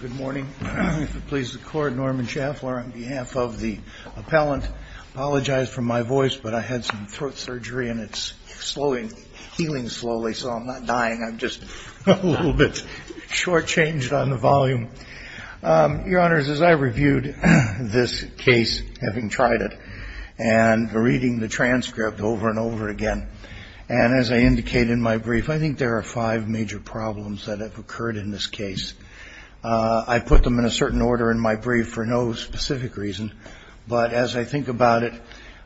Good morning. If it pleases the court, Norman Schaffler on behalf of the appellant. I apologize for my voice, but I had some throat surgery and it's healing slowly, so I'm not dying. I'm just a little bit shortchanged on the volume. Your Honors, as I reviewed this case, having tried it, and reading the transcript over and over again, and as I indicate in my brief, I think there are five major problems that have occurred in this case. I put them in a certain order in my brief for no specific reason, but as I think about it,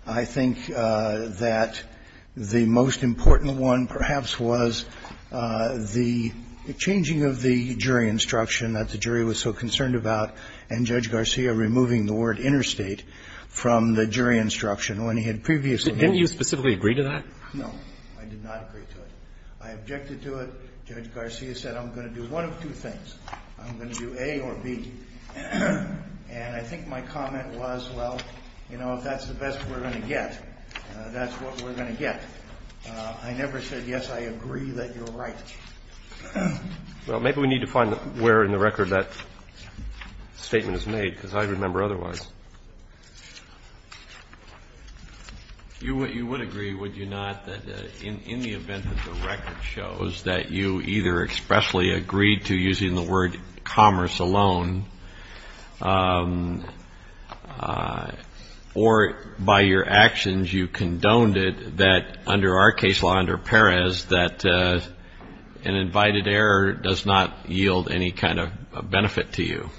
I think that the most important one perhaps was the changing of the jury instruction that the jury was so concerned about and Judge Garcia removing the word interstate from the jury instruction when he had previously made it. Didn't you specifically agree to that? No, I did not agree to it. I objected to it. Judge Garcia said I'm going to do one of two things. I'm going to do A or B. And I think my comment was, well, you know, if that's the best we're going to get, that's what we're going to get. I never said, yes, I agree that you're right. Well, maybe we need to find where in the record that statement is made because I remember otherwise. You would agree, would you not, that in the event that the record shows that you either expressly agreed to using the word commerce alone or by your actions you condoned it, that under our case law, under Perez, that an invited error does not yield any kind of benefit to you?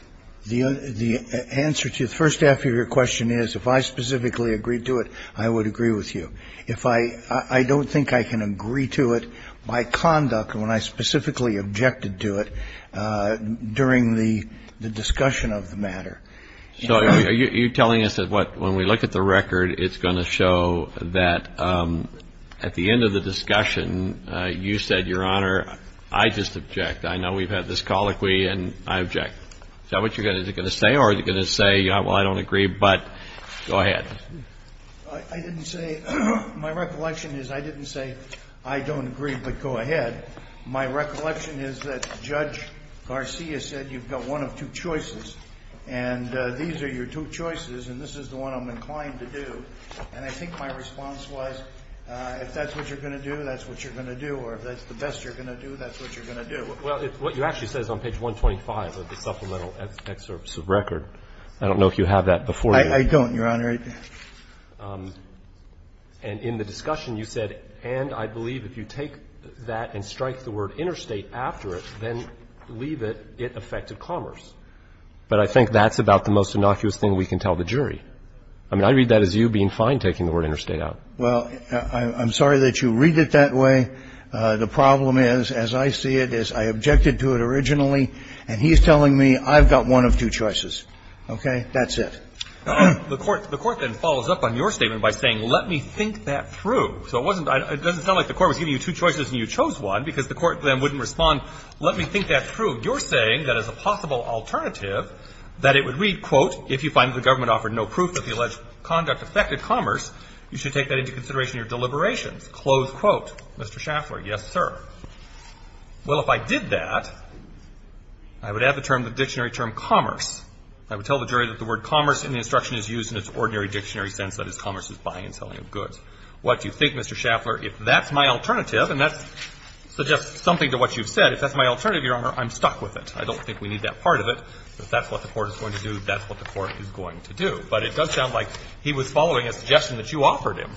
The answer to the first half of your question is if I specifically agreed to it, I would agree with you. I don't think I can agree to it by conduct when I specifically objected to it during the discussion of the matter. So are you telling us that what, when we look at the record, it's going to show that at the end of the discussion, you said, Your Honor, I just object. I know we've had this colloquy and I object. Is that what you're going to say or are you going to say, well, I don't agree, but go ahead. I didn't say, my recollection is I didn't say I don't agree, but go ahead. My recollection is that Judge Garcia said you've got one of two choices, and these are your two choices, and this is the one I'm inclined to do. And I think my response was, if that's what you're going to do, that's what you're going to do, or if that's the best you're going to do, that's what you're going to do. Well, what you actually said is on page 125 of the supplemental excerpts of record. I don't know if you have that before you. I don't, Your Honor. And in the discussion, you said, and I believe if you take that and strike the word interstate after it, then leave it, it affected commerce. But I think that's about the most innocuous thing we can tell the jury. I mean, I read that as you being fine taking the word interstate out. Well, I'm sorry that you read it that way. The problem is, as I see it, is I objected to it originally, and he's telling me I've got one of two choices. Okay? That's it. The court then follows up on your statement by saying, let me think that through. So it wasn't, it doesn't sound like the court was giving you two choices and you chose one because the court then wouldn't respond, let me think that through. You're saying that as a possible alternative, that it would read, quote, if you find that the government offered no proof that the alleged conduct affected commerce, you should take that into consideration in your deliberations. Close quote. Mr. Schaffler, yes, sir. Well, if I did that, I would add the term, the dictionary term commerce. I would tell the jury that the word commerce in the instruction is used in its ordinary dictionary sense, that is, commerce is buying and selling of goods. What do you think, Mr. Schaffler, if that's my alternative, and that suggests something to what you've said, if that's my alternative, Your Honor, I'm stuck with it. I don't think we need that part of it. If that's what the court is going to do, that's what the court is going to do. But it does sound like he was following a suggestion that you offered him.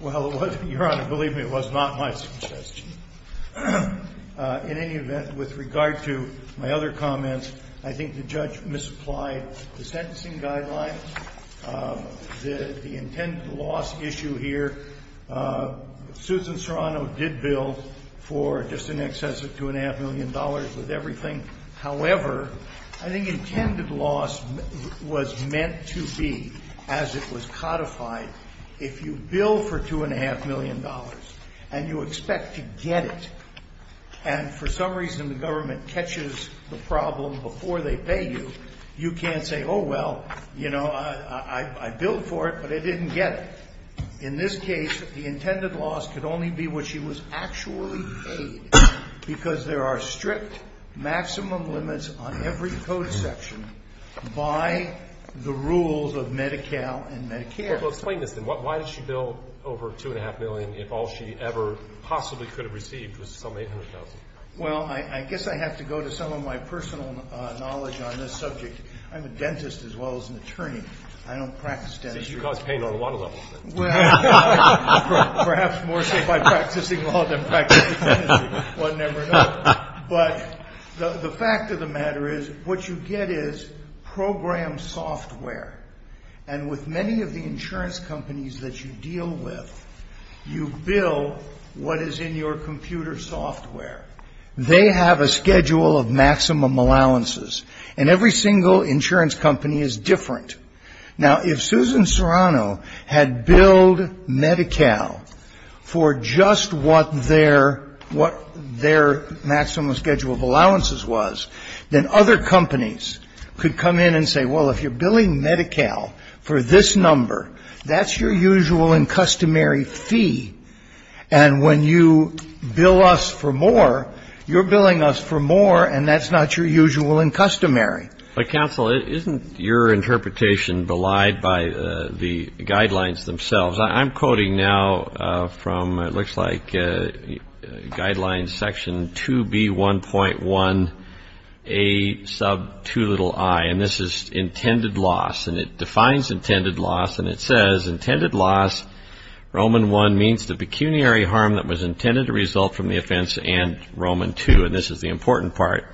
Well, it was, Your Honor, believe me, it was not my suggestion. In any event, with regard to my other comments, I think the judge misapplied the sentencing guidelines, the intended loss issue here. Susan Serrano did bill for just in excess of $2.5 million with everything. However, I think intended loss was meant to be, as it was codified, if you bill for $2.5 million and you expect to get it, and for some reason the government catches the problem before they pay you, you can't say, oh, well, you know, I billed for it, but I didn't get it. In this case, the intended loss could only be what she was actually paid because there are strict maximum limits on every code section by the rules of Medi-Cal and Medi-Cal. Well, explain this then. Why did she bill over $2.5 million if all she ever possibly could have received was some $800,000? Well, I guess I have to go to some of my personal knowledge on this subject. I'm a dentist as well as an attorney. I don't practice dentistry. You cause pain on a lot of levels. Well, perhaps more so by practicing law than practicing dentistry. One never knows. But the fact of the matter is what you get is program software. And with many of the insurance companies that you deal with, you bill what is in your computer software. They have a schedule of maximum allowances. And every single insurance company is different. Now, if Susan Serrano had billed Medi-Cal for just what their maximum schedule of allowances was, then other companies could come in and say, well, if you're billing Medi-Cal for this number, that's your usual and customary fee. And when you bill us for more, you're billing us for more, and that's not your usual and customary. But, counsel, isn't your interpretation belied by the guidelines themselves? I'm quoting now from it looks like Guidelines Section 2B1.1A2i, and this is intended loss. And it defines intended loss, and it says, intended loss, Roman I, means the pecuniary harm that was intended to result from the offense, and Roman II, and this is the important part,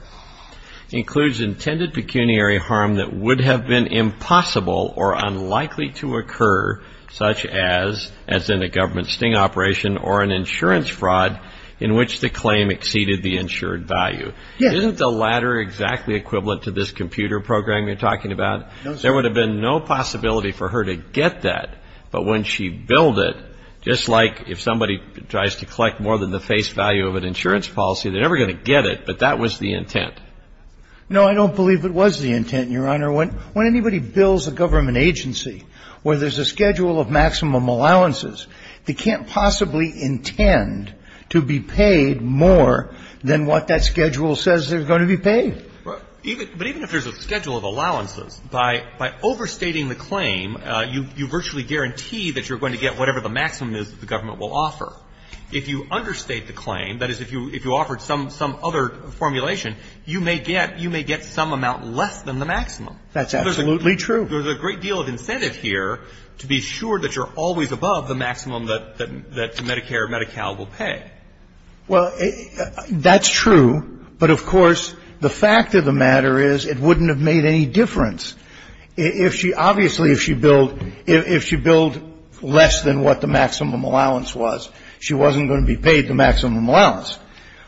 includes intended pecuniary harm that would have been impossible or unlikely to occur, such as in a government sting operation or an insurance fraud in which the claim exceeded the insured value. Isn't the latter exactly equivalent to this computer program you're talking about? There would have been no possibility for her to get that, but when she billed it, just like if somebody tries to collect more than the face value of an insurance policy, they're never going to get it, but that was the intent. No, I don't believe it was the intent, Your Honor. When anybody bills a government agency where there's a schedule of maximum allowances, by overstating the claim, you virtually guarantee that you're going to get whatever the maximum is that the government will offer. If you understate the claim, that is, if you offered some other formulation, you may get some amount less than the maximum. That's absolutely true. There's a great deal of incentive here to be sure that you're always above the maximum that Medicare or Medi-Cal will pay. Well, that's true. But, of course, the fact of the matter is it wouldn't have made any difference. Obviously, if she billed less than what the maximum allowance was, she wasn't going to be paid the maximum allowance.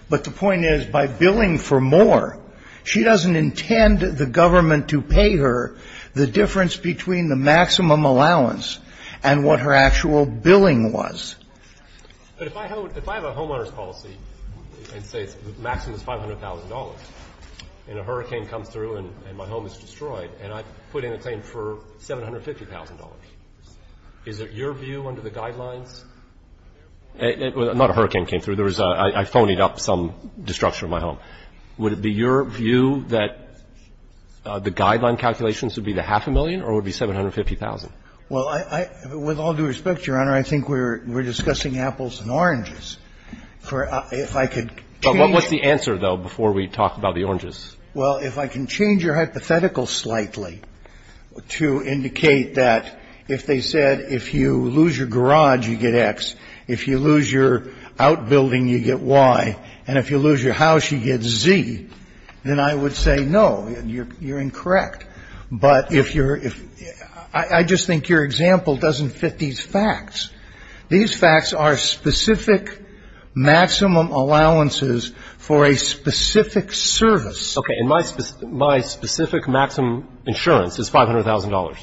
But the point is, by billing for more, she doesn't intend the government to pay her the difference between the maximum allowance and what her actual billing was. But if I have a homeowner's policy and say the maximum is $500,000, and a hurricane comes through and my home is destroyed, and I put in a claim for $750,000, is it your view under the guidelines? Not a hurricane came through. There was a ‑‑ I phoned up some destruction of my home. Would it be your view that the guideline calculations would be the half a million or would it be $750,000? Well, with all due respect, Your Honor, I think we're discussing apples and oranges. If I could change ‑‑ But what's the answer, though, before we talk about the oranges? Well, if I can change your hypothetical slightly to indicate that if they said if you lose your garage, you get X, if you lose your outbuilding, you get Y, and if you lose your house, you get Z, then I would say, no, you're incorrect. But if you're ‑‑ I just think your example doesn't fit these facts. These facts are specific maximum allowances for a specific service. Okay. And my specific maximum insurance is $500,000.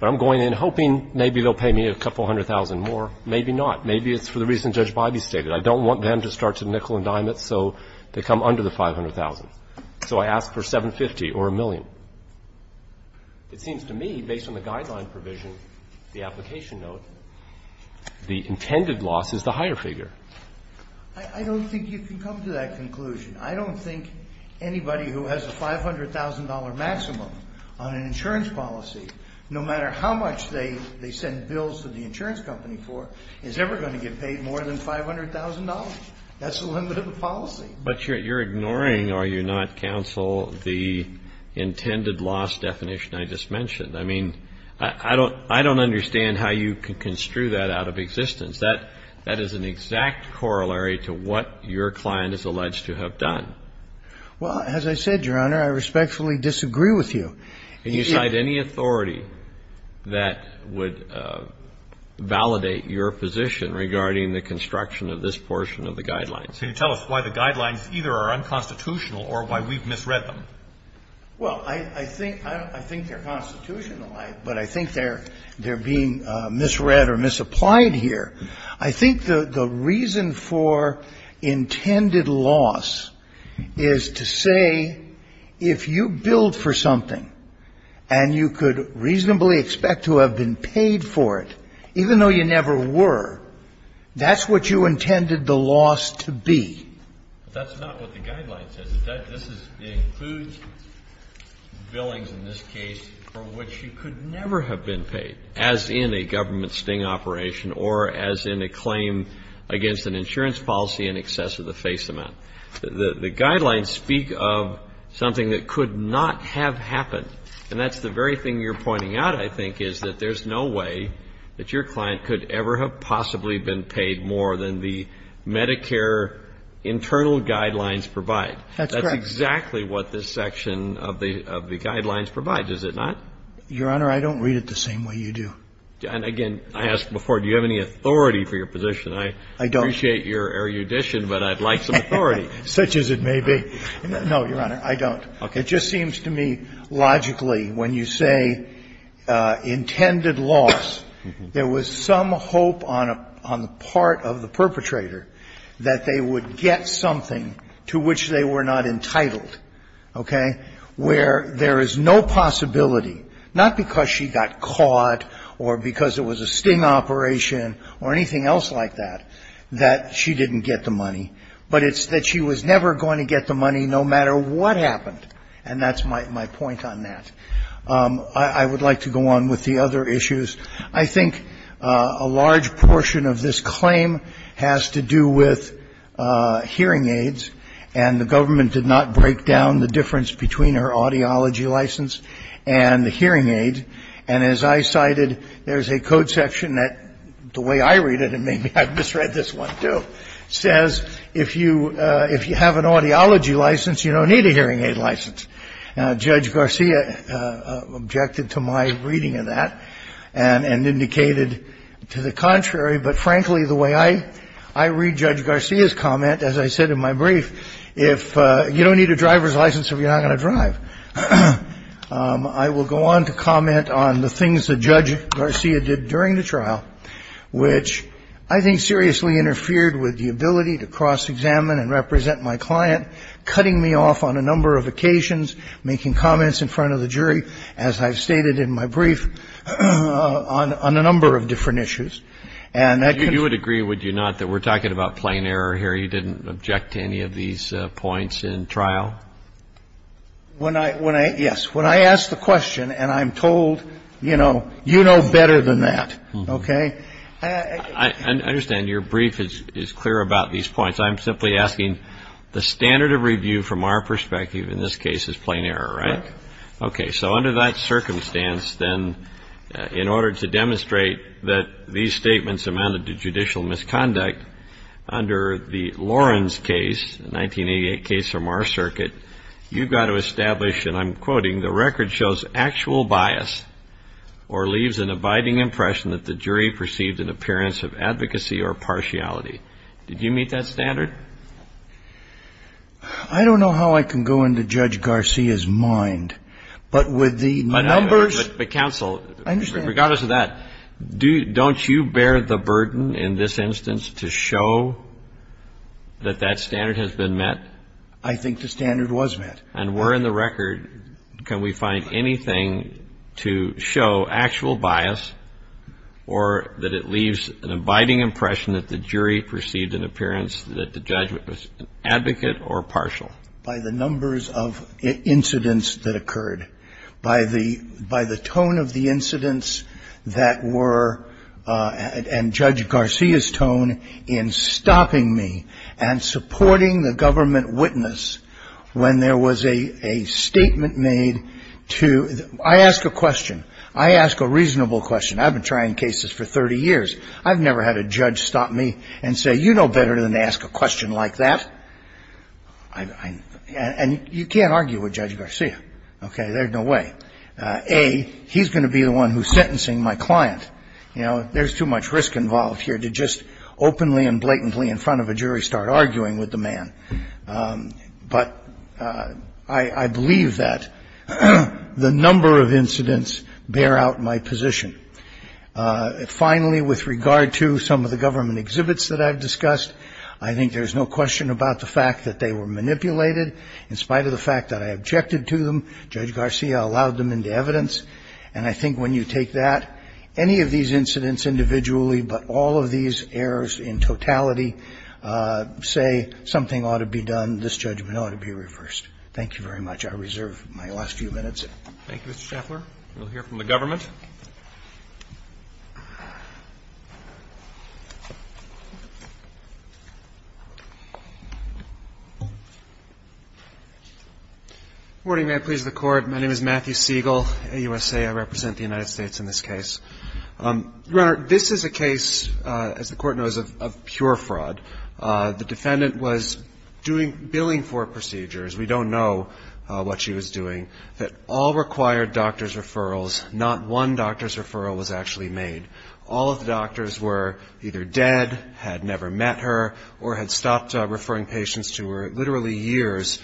But I'm going in hoping maybe they'll pay me a couple hundred thousand more. Maybe not. Maybe it's for the reason Judge Biby stated. I don't want them to start to nickel and dime it so they come under the $500,000. So I ask for $750,000 or a million. It seems to me, based on the guideline provision, the application note, the intended loss is the higher figure. I don't think you can come to that conclusion. I don't think anybody who has a $500,000 maximum on an insurance policy, no matter how much they send bills to the insurance company for, is ever going to get paid more than $500,000. That's the limit of the policy. But you're ignoring, are you not, counsel, the intended loss definition I just mentioned. I mean, I don't understand how you can construe that out of existence. That is an exact corollary to what your client is alleged to have done. Well, as I said, Your Honor, I respectfully disagree with you. Can you cite any authority that would validate your position regarding the construction of this portion of the guidelines? Can you tell us why the guidelines either are unconstitutional or why we've misread them? Well, I think they're constitutional, but I think they're being misread or misapplied here. I think the reason for intended loss is to say if you billed for something and you could reasonably expect to have been paid for it, even though you never were, that's what you intended the loss to be. That's not what the guideline says. This includes billings in this case for which you could never have been paid, as in a government sting operation or as in a claim against an insurance policy in excess of the face amount. The guidelines speak of something that could not have happened. And that's the very thing you're pointing out, I think, is that there's no way that your And that's what the Medicare internal guidelines provide. That's correct. That's exactly what this section of the guidelines provides, is it not? Your Honor, I don't read it the same way you do. And again, I asked before, do you have any authority for your position? I don't. I appreciate your erudition, but I'd like some authority. Such as it may be. No, Your Honor, I don't. Okay. It just seems to me, logically, when you say intended loss, there was some hope on the part of the perpetrator that they would get something to which they were not entitled. Okay? Where there is no possibility, not because she got caught or because it was a sting operation or anything else like that, that she didn't get the money. But it's that she was never going to get the money, no matter what happened. And that's my point on that. I would like to go on with the other issues. I think a large portion of this claim has to do with hearing aids. And the government did not break down the difference between her audiology license and the hearing aid. And as I cited, there's a code section that, the way I read it, and maybe I've misread this one too, says if you have an audiology license, you don't need a hearing aid license. Judge Garcia objected to my reading of that and indicated to the contrary. But, frankly, the way I read Judge Garcia's comment, as I said in my brief, if you don't need a driver's license, you're not going to drive. I will go on to comment on the things that Judge Garcia did during the trial, which I think seriously interfered with the ability to cross-examine and represent my client, cutting me off on a number of occasions, making comments in front of the jury, as I've stated in my brief, on a number of different issues. And that can be ---- You would agree, would you not, that we're talking about plain error here? You didn't object to any of these points in trial? When I ---- yes. When I ask the question and I'm told, you know, you know better than that, okay, I understand your brief is clear about these points. I'm simply asking the standard of review from our perspective in this case is plain error, right? Okay. So under that circumstance, then, in order to demonstrate that these statements amounted to judicial misconduct, under the Lawrence case, the 1988 case from our circuit, you've got to establish, and I'm quoting, the record shows actual bias or leaves an abiding impression that the jury perceived an appearance of advocacy or partiality. Did you meet that standard? I don't know how I can go into Judge Garcia's mind, but with the numbers ---- But counsel, regardless of that, don't you bear the burden in this instance to show that that standard has been met? I think the standard was met. And where in the record can we find anything to show actual bias or that it leaves an abiding impression that the jury perceived an appearance that the judge was an advocate or partial? By the numbers of incidents that occurred, by the tone of the incidents that were and Judge Garcia's tone in stopping me and supporting the government witness when there was a statement made to ---- I ask a question. I ask a reasonable question. I've been trying cases for 30 years. I've never had a judge stop me and say, you know better than to ask a question like that. And you can't argue with Judge Garcia. Okay? There's no way. A, he's going to be the one who's sentencing my client. You know, there's too much risk involved here to just openly and blatantly in front of a jury start arguing with the man. But I believe that the number of incidents bear out my position. Finally, with regard to some of the government exhibits that I've discussed, I think there's no question about the fact that they were manipulated. In spite of the fact that I objected to them, Judge Garcia allowed them into evidence. And I think when you take that, any of these incidents individually, but all of these errors in totality say something ought to be done, this judgment ought to be reversed. Thank you very much. I reserve my last few minutes. Thank you, Mr. Schaffler. We'll hear from the government. Good morning. May it please the Court. My name is Matthew Siegel, USA. I represent the United States in this case. Your Honor, this is a case, as the Court knows, of pure fraud. The defendant was doing, billing for procedures. We don't know what she was doing. All required doctor's referrals. Not one doctor's referral was actually made. All of the doctors were either dead, had never met her, or had stopped referring patients to her literally years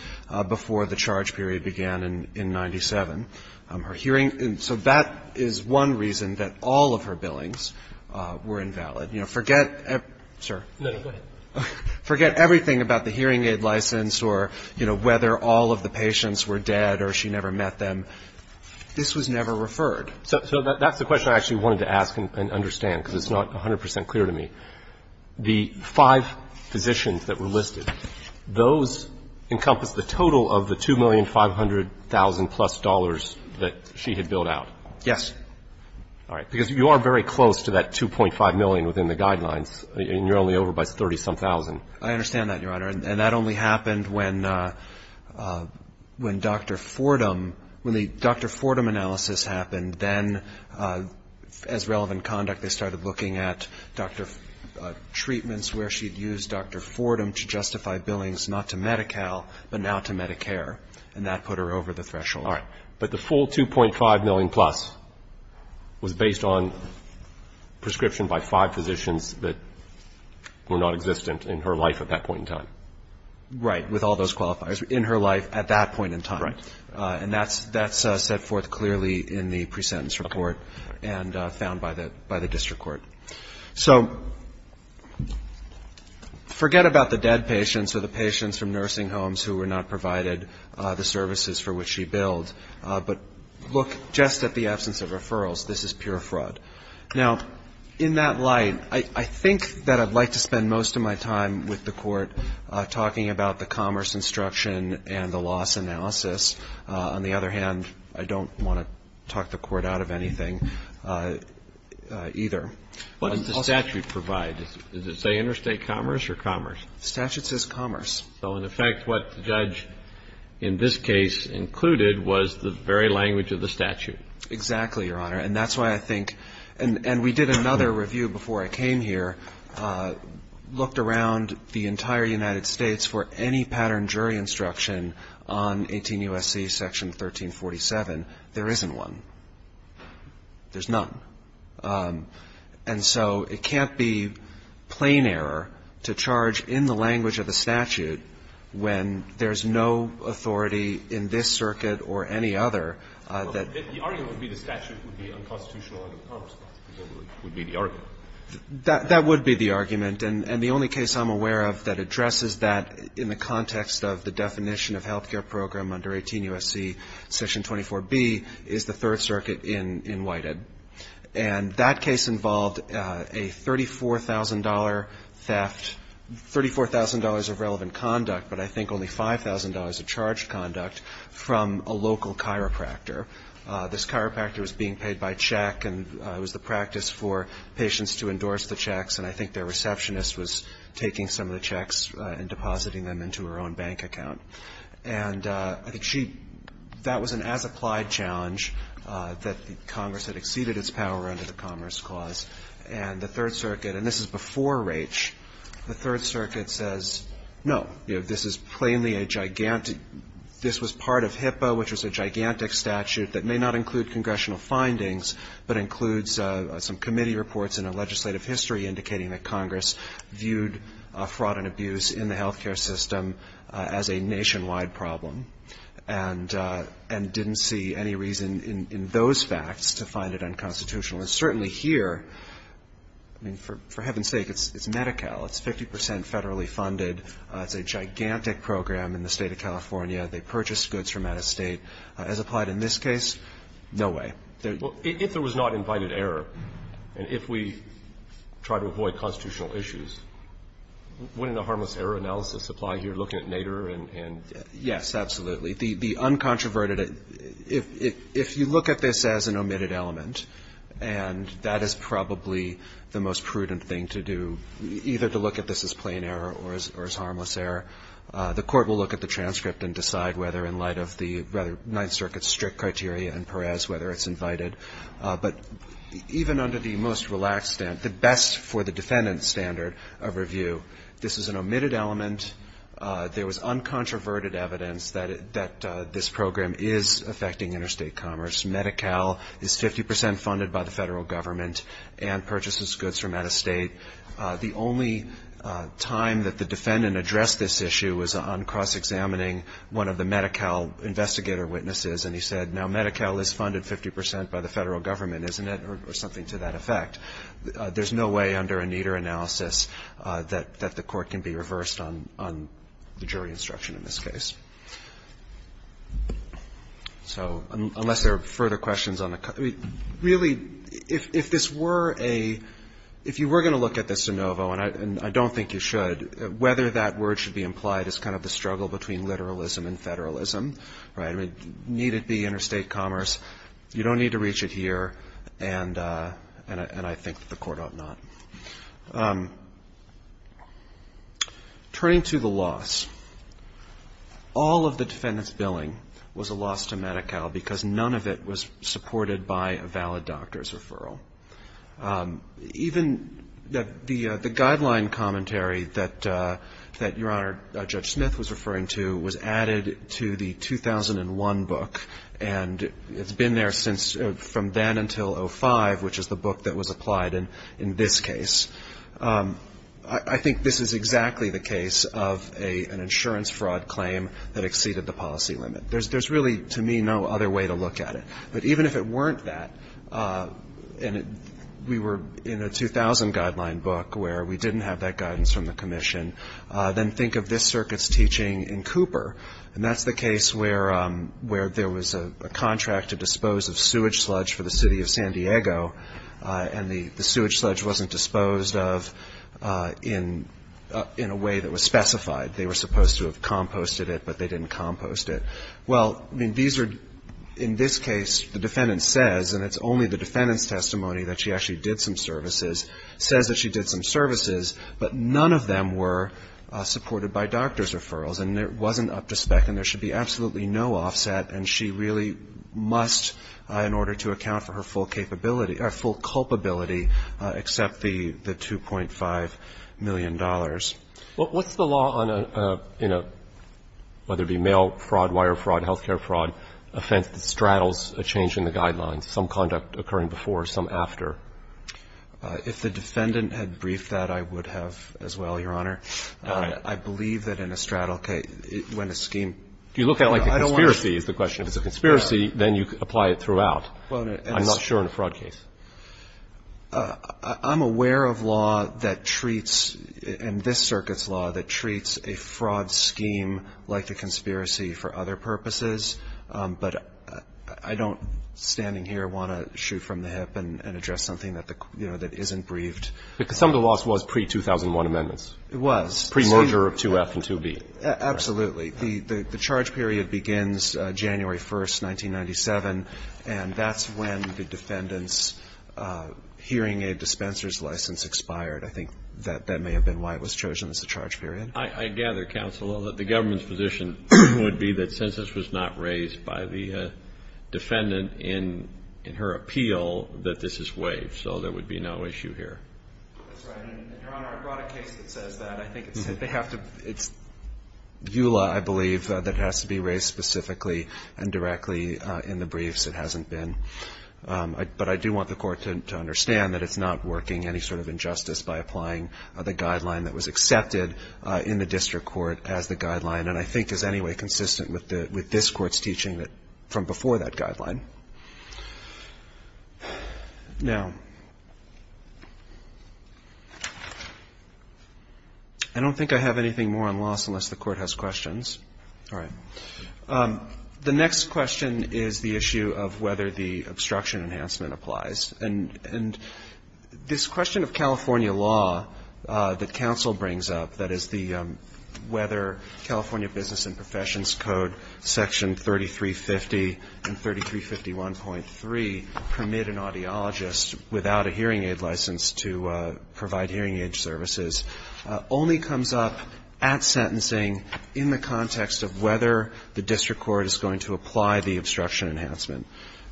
before the charge period began in 97. Her hearing — so that is one reason that all of her billings were invalid. You know, forget — sir. No, go ahead. Forget everything about the hearing aid license or, you know, whether all of the patients were dead or she never met them. This was never referred. So that's the question I actually wanted to ask and understand, because it's not 100 percent clear to me. The five physicians that were listed, those encompass the total of the $2,500,000 plus that she had billed out. Yes. All right. Because you are very close to that $2.5 million within the guidelines, and you're only over by $30-some-thousand. I understand that, Your Honor. And that only happened when Dr. Fordham — when the Dr. Fordham analysis happened. Then, as relevant conduct, they started looking at Dr. — treatments where she had used Dr. Fordham to justify billings, not to Medi-Cal, but now to Medicare. And that put her over the threshold. All right. But the full $2.5 million plus was based on prescription by five physicians that were not existent in her life at that point in time. Right. With all those qualifiers. In her life at that point in time. Right. And that's set forth clearly in the pre-sentence report and found by the district court. So forget about the dead patients or the patients from nursing homes who were not provided the services for which she billed. But look just at the absence of referrals. This is pure fraud. Now, in that light, I think that I'd like to spend most of my time with the court talking about the commerce instruction and the loss analysis. On the other hand, I don't want to talk the court out of anything either. What does the statute provide? Does it say interstate commerce or commerce? The statute says commerce. So, in effect, what the judge in this case included was the very language of the statute. Exactly, Your Honor. And that's why I think — and we did another review before I came here, looked around the entire United States for any pattern of jury instruction on 18 U.S.C. section 1347. There isn't one. There's none. And so it can't be plain error to charge in the language of the statute when there's no authority in this circuit or any other that — The argument would be the statute would be unconstitutional and the commerce part would be the argument. That would be the argument. And the only case I'm aware of that addresses that in the context of the definition of health care program under 18 U.S.C. section 24B is the Third Circuit in Whitehead. And that case involved a $34,000 theft — $34,000 of relevant conduct, but I think only $5,000 of charged conduct from a local chiropractor. This chiropractor was being paid by check, and it was the practice for patients to endorse the checks, and I think their receptionist was taking some of the checks and depositing them into her own bank account. And I think she — that was an as-applied challenge that Congress had exceeded its power under the Commerce Clause. And the Third Circuit — and this is before Raich — the Third Circuit says, no, this is plainly a gigantic — this was part of HIPAA, which was a gigantic statute that may not include congressional findings, but includes some committee reports and a legislative history indicating that Congress viewed fraud and abuse in the health care system as a nationwide problem and didn't see any reason in those facts to find it unconstitutional. And certainly here, I mean, for heaven's sake, it's Medi-Cal. It's 50 percent federally funded. It's a gigantic program in the State of California. They purchase goods from out of State. As applied in this case, no way. Roberts. Well, if there was not invited error, and if we try to avoid constitutional issues, wouldn't a harmless error analysis apply here, looking at Nader and — Yes, absolutely. The uncontroverted — if you look at this as an omitted element, and that is probably the most prudent thing to do, either to look at this as plain error or as harmless error, the court will look at the transcript and decide whether, in light of the Ninth Circuit's strict criteria and Perez, whether it's invited. But even under the most relaxed — the best for the defendant standard of review, this is an omitted element. There was uncontroverted evidence that this program is affecting interstate commerce. Medi-Cal is 50 percent funded by the Federal Government and purchases goods from out of State. The only time that the defendant addressed this issue was on cross-examining one of the Medi-Cal investigator witnesses, and he said, now, Medi-Cal is funded 50 percent by the Federal Government, isn't it, or something to that effect. There's no way under a Nader analysis that the court can be reversed on the jury instruction in this case. So unless there are further questions on the — really, if this were a — if you were going to look at this de novo, and I don't think you should, whether that word should be implied is kind of the struggle between literalism and federalism, right? I mean, need it be interstate commerce? You don't need to reach it here, and I think that the court ought not. Turning to the loss, all of the defendant's billing was a loss to Medi-Cal because none of it was supported by a valid doctor's referral. Even the guideline commentary that Your Honor, Judge Smith was referring to was added to the 2001 book, and it's been there since — from then until 05, which is the book that was applied in this case. I think this is exactly the case of an insurance fraud claim that exceeded the policy limit. There's really, to me, no other way to look at it. But even if it weren't that, and we were in a 2000 guideline book where we didn't have that guidance from the commission, then think of this circuit's teaching in Cooper, and that's the case where there was a contract to dispose of sewage sludge for the city of San Diego, and the sewage sludge wasn't disposed of in a way that was specified. They were supposed to have composted it, but they didn't compost it. Well, I mean, these are, in this case, the defendant says, and it's only the defendant's testimony that she actually did some services, says that she did some services, but none of them were supported by doctor's referrals, and it wasn't up to spec, and there should be absolutely no offset, and she really must, in order to account for her full capability or full culpability, accept the $2.5 million. Well, what's the law on a, you know, whether it be mail fraud, wire fraud, health care fraud, offense that straddles a change in the guidelines, some conduct occurring before, some after? If the defendant had briefed that, I would have as well, Your Honor. I believe that in a straddle case, when a scheme – Do you look at it like a conspiracy is the question? If it's a conspiracy, then you apply it throughout. I'm not sure in a fraud case. I'm aware of law that treats, in this circuit's law, that treats a fraud scheme like a conspiracy for other purposes, but I don't, standing here, want to shoot from the hip and address something that isn't briefed. Because some of the loss was pre-2001 amendments. It was. Pre-merger of 2F and 2B. Absolutely. The charge period begins January 1st, 1997, and that's when the defendant's hearing aid dispenser's license expired. I think that may have been why it was chosen as the charge period. I gather, counsel, that the government's position would be that since this was not raised by the defendant in her appeal, that this is waived. So there would be no issue here. That's right. And, Your Honor, I brought a case that says that. It's EULA, I believe, that has to be raised specifically and directly in the briefs. It hasn't been. But I do want the Court to understand that it's not working any sort of injustice by applying the guideline that was accepted in the district court as the guideline and I think is anyway consistent with this Court's teaching from before that guideline. Now, I don't think I have anything more on loss unless the Court has questions. All right. The next question is the issue of whether the obstruction enhancement applies. And this question of California law that counsel brings up, that is the whether California Business and Professions Code Section 3350 and 3351.3 permit an audiologist without a hearing aid license to provide hearing aid services, only comes up at sentencing in the context of whether the district court is going to apply the obstruction enhancement.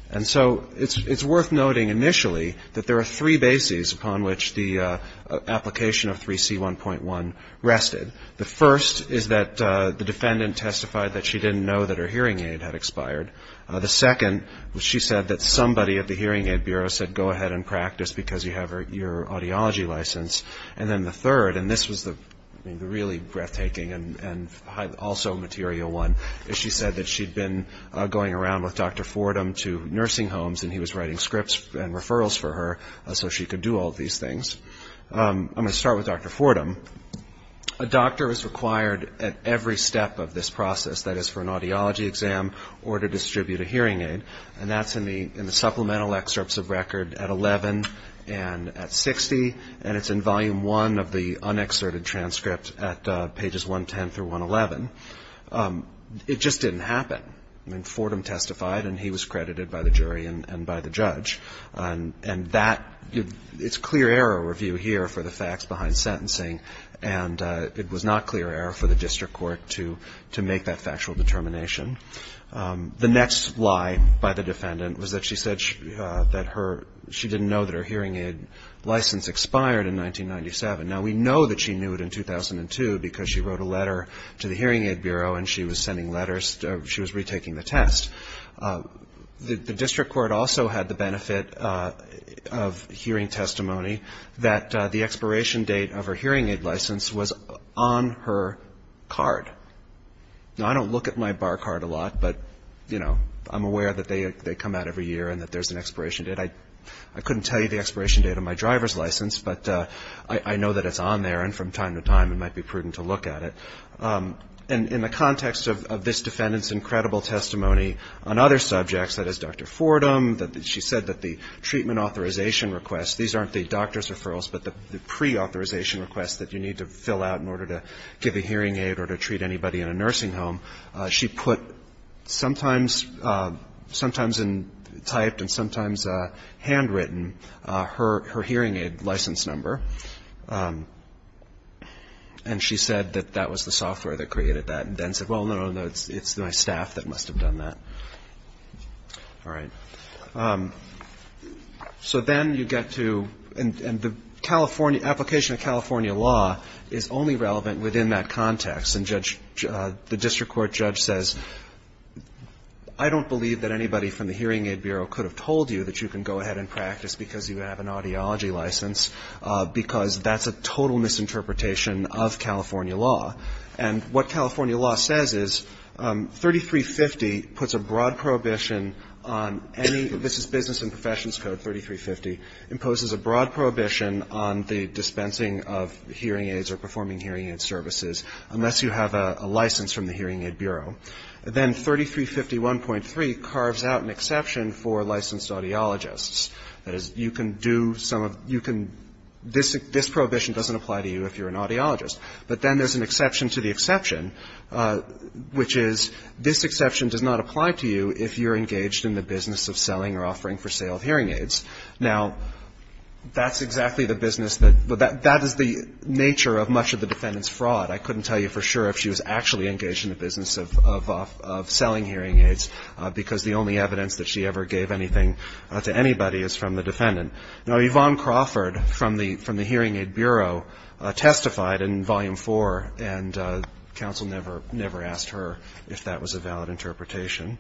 And so it's worth noting initially that there are three bases upon which the application of 3C1.1 rested. The first is that the defendant testified that she didn't know that her hearing aid had expired. The second, she said that somebody at the Hearing Aid Bureau said go ahead and practice because you have your audiology license. And then the third, and this was the really breathtaking and also material one, is she said that she'd been going around with Dr. Fordham to nursing homes and he was writing scripts and referrals for her so she could do all of these things. I'm going to start with Dr. Fordham. A doctor is required at every step of this process, that is for an audiology exam or to distribute a hearing aid, and that's in the supplemental excerpts of record at 11 and at 60, and it's in Volume 1 of the unexerted transcript at pages 110 through 111. It just didn't happen. I mean, Fordham testified and he was credited by the jury and by the judge. And it was not clear error for the district court to make that factual determination. The next lie by the defendant was that she said that her, she didn't know that her hearing aid license expired in 1997. Now, we know that she knew it in 2002 because she wrote a letter to the Hearing Aid Bureau and she was sending letters, she was retaking the test. The district court also had the benefit of hearing testimony that the expiration date of her hearing aid license was on her card. Now, I don't look at my bar card a lot, but, you know, I'm aware that they come out every year and that there's an expiration date. I couldn't tell you the expiration date of my driver's license, but I know that it's on there and from time to time it might be prudent to look at it. And in the context of this defendant's incredible testimony on other subjects, that is Dr. Fordham, that she said that the treatment authorization request, these aren't the doctor's referrals, but the pre-authorization requests that you need to fill out in order to give a hearing aid or to treat anybody in a nursing home, she put sometimes in typed and sometimes handwritten her hearing aid license number. And she said that that was the software that created that and then said, well, no, no, no, it's my staff that must have done that. All right. So then you get to, and the application of California law is only relevant within that context. And the district court judge says, I don't believe that anybody from the Hearing Aid Bureau could have told you that you can go ahead and practice because you have an audiology license, because that's a total misinterpretation of California law. And what California law says is 3350 puts a broad prohibition on any, this is business and professions code 3350, imposes a broad prohibition on the dispensing of hearing aids or performing hearing aid services unless you have a license from the Hearing Aid Bureau. Then 3351.3 carves out an exception for licensed audiologists. That is, you can do some of, you can, this prohibition doesn't apply to you if you're an audiologist. But then there's an exception to the exception, which is this exception does not apply to you if you're engaged in the business of selling or offering for sale of hearing aids. Now, that's exactly the business that, that is the nature of much of the defendant's fraud. I couldn't tell you for sure if she was actually engaged in the business of selling hearing aids, because the only evidence that she ever gave anything to anybody is from the defendant. Now, Yvonne Crawford from the Hearing Aid Bureau testified in Volume 4, and counsel never asked her if that was a valid interpretation.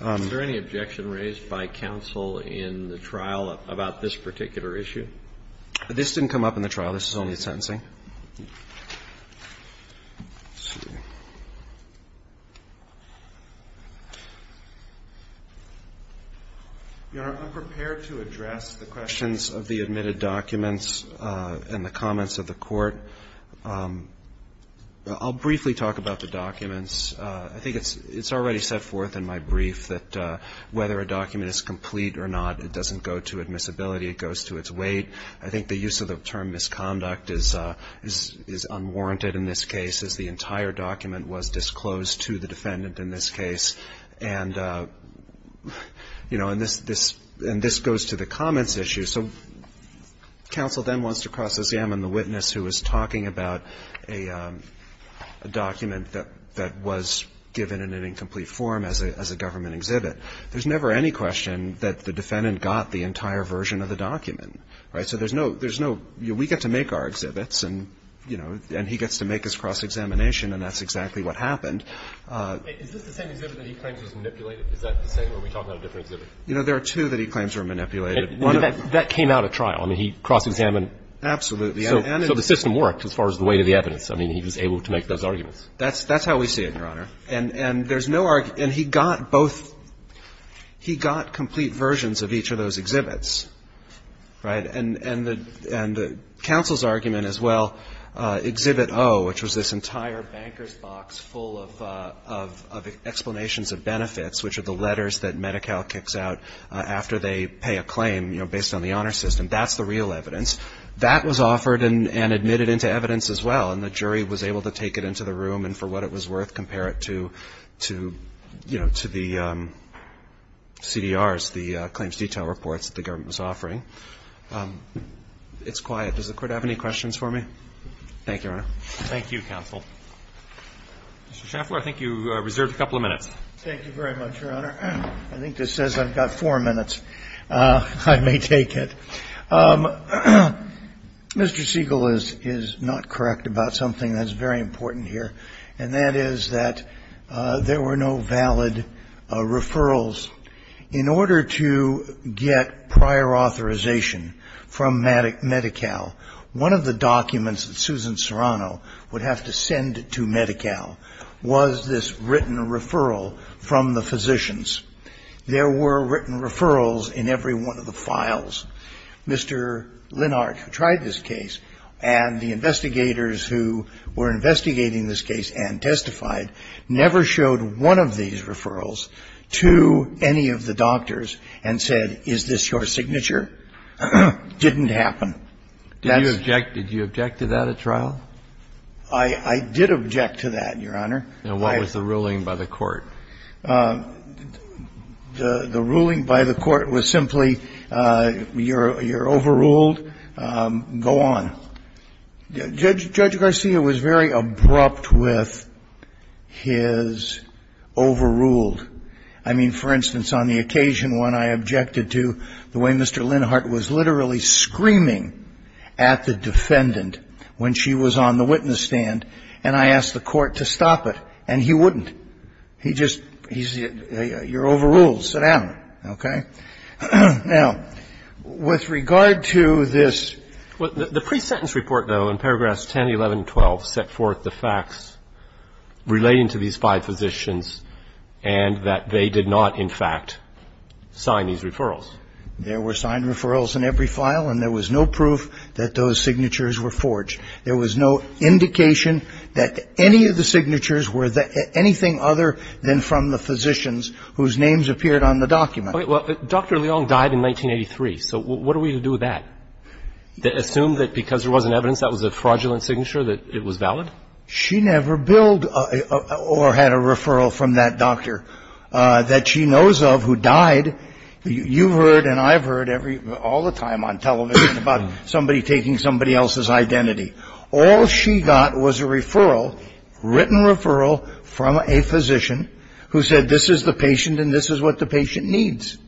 Is there any objection raised by counsel in the trial about this particular issue? This didn't come up in the trial. This is only sentencing. Your Honor, I'm prepared to address the questions of the admitted documents and the comments of the Court. I'll briefly talk about the documents. I think it's already set forth in my brief that whether a document is complete or not, it doesn't go to admissibility. It goes to its weight. I think the use of the term misconduct is unwarranted in this case, as the entire document was disclosed to the defendant in this case. And, you know, and this goes to the comments issue. So counsel then wants to cross-examine the witness who was talking about a document that was given in an incomplete form as a government exhibit. There's never any question that the defendant got the entire version of the document. Right? So there's no, there's no, you know, we get to make our exhibits and, you know, and he gets to make his cross-examination and that's exactly what happened. Is this the same exhibit that he claims was manipulated? Is that the same or are we talking about a different exhibit? You know, there are two that he claims were manipulated. That came out of trial. I mean, he cross-examined. Absolutely. So the system worked as far as the weight of the evidence. I mean, he was able to make those arguments. That's how we see it, Your Honor. And there's no argument. And he got both, he got complete versions of each of those exhibits. Right? And the counsel's argument as well, Exhibit O, which was this entire banker's box full of explanations of benefits, which are the letters that Medi-Cal kicks out after they pay a claim, you know, based on the honor system, that's the real evidence. That was offered and admitted into evidence as well, and the jury was able to take it into the room and, for what it was worth, compare it to, you know, to the CDRs, the claims detail reports that the government was offering. It's quiet. Does the Court have any questions for me? Thank you, Your Honor. Thank you, counsel. Mr. Schaffler, I think you reserved a couple of minutes. Thank you very much, Your Honor. I think this says I've got four minutes. I may take it. Mr. Siegel is not correct about something that's very important here, and that is that there were no valid referrals. In order to get prior authorization from Medi-Cal, one of the documents that Susan Serrano would have to send to Medi-Cal was this written referral from the physicians. There were written referrals in every one of the files. Mr. Linard, who tried this case, and the investigators who were investigating this case and testified, never showed one of these referrals to any of the doctors and said, is this your signature? Didn't happen. Did you object to that at trial? I did object to that, Your Honor. And what was the ruling by the Court? The ruling by the Court was simply, you're overruled, go on. Judge Garcia was very abrupt with his overruled. I mean, for instance, on the occasion when I objected to the way Mr. Linard was literally screaming at the defendant when she was on the witness stand, and I asked the Court to stop it, and he wouldn't. He just said, you're overruled, sit down. Okay? Now, with regard to this ---- The pre-sentence report, though, in paragraphs 10, 11, and 12, set forth the facts relating to these five physicians and that they did not, in fact, sign these referrals. There were signed referrals in every file, and there was no proof that those signatures were forged. There was no indication that any of the signatures were anything other than from the physicians whose names appeared on the document. Okay. Well, Dr. Leong died in 1983, so what are we to do with that? Assume that because there wasn't evidence that was a fraudulent signature that it was valid? She never billed or had a referral from that doctor that she knows of who died. You've heard and I've heard every ---- all the time on television about somebody taking somebody else's identity. All she got was a referral, written referral, from a physician who said, this is the patient and this is what the patient needs.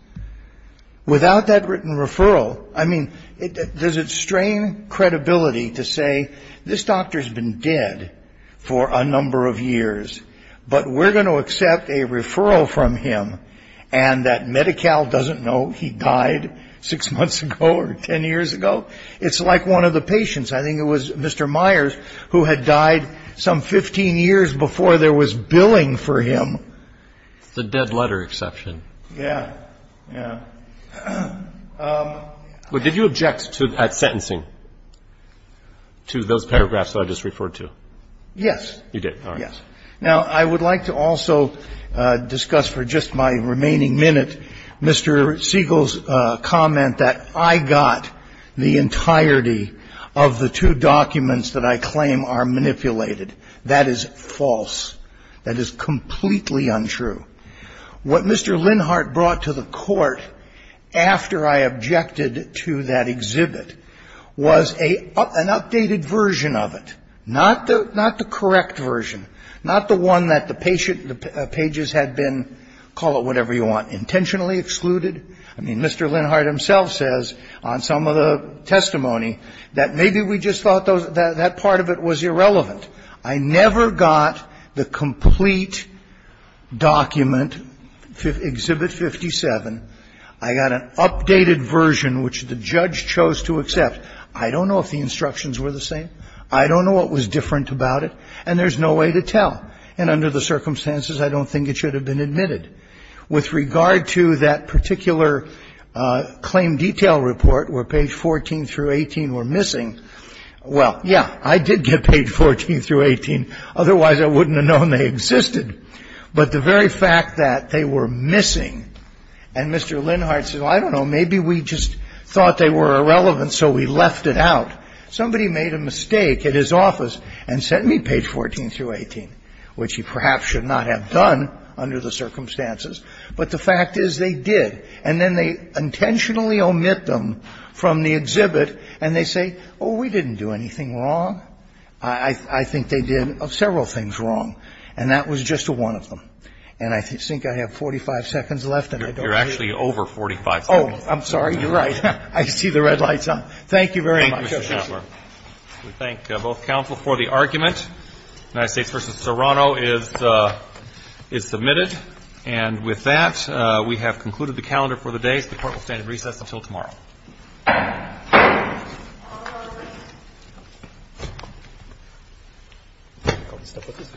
Without that written referral, I mean, there's a strange credibility to say, this doctor's been dead for a number of years, but we're going to accept a referral from him, and that Medi-Cal doesn't know he died six months ago or ten years ago? It's like one of the patients. I think it was Mr. Myers who had died some 15 years before there was billing for him. It's a dead letter exception. Yeah. Yeah. Well, did you object at sentencing to those paragraphs that I just referred to? Yes. You did. All right. Yes. Now, I would like to also discuss for just my remaining minute Mr. Siegel's comment that I got the entirety of the two documents that I claim are manipulated. That is false. That is completely untrue. What Mr. Linhart brought to the Court after I objected to that exhibit was an updated version of it, not the correct version, not the one that the patient ---- the pages had been, call it whatever you want, intentionally excluded. I mean, Mr. Linhart himself says on some of the testimony that maybe we just thought that part of it was irrelevant. I never got the complete document, exhibit 57. I got an updated version which the judge chose to accept. I don't know if the instructions were the same. I don't know what was different about it. And there's no way to tell. And under the circumstances, I don't think it should have been admitted. With regard to that particular claim detail report where page 14 through 18 were missing, well, yeah, I did get page 14 through 18. Otherwise, I wouldn't have known they existed. But the very fact that they were missing and Mr. Linhart said, well, I don't know, maybe we just thought they were irrelevant, so we left it out. Somebody made a mistake at his office and sent me page 14 through 18, which he perhaps should not have done under the circumstances. But the fact is they did. And then they intentionally omit them from the exhibit, and they say, oh, we didn't do anything wrong. I think they did several things wrong. And that was just one of them. And I think I have 45 seconds left, and I don't know. You're actually over 45 seconds. Oh, I'm sorry. You're right. I see the red lights on. Thank you very much. Thank you. So before the argument, United States v. Serrano is submitted. And with that, we have concluded the calendar for the day. The court will stand in recess until tomorrow. All rise.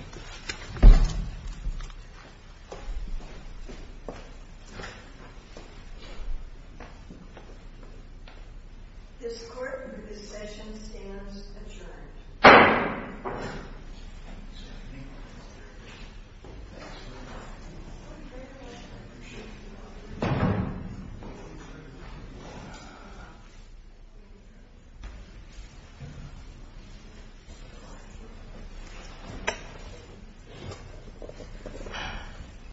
This court, this session stands adjourned. Thank you.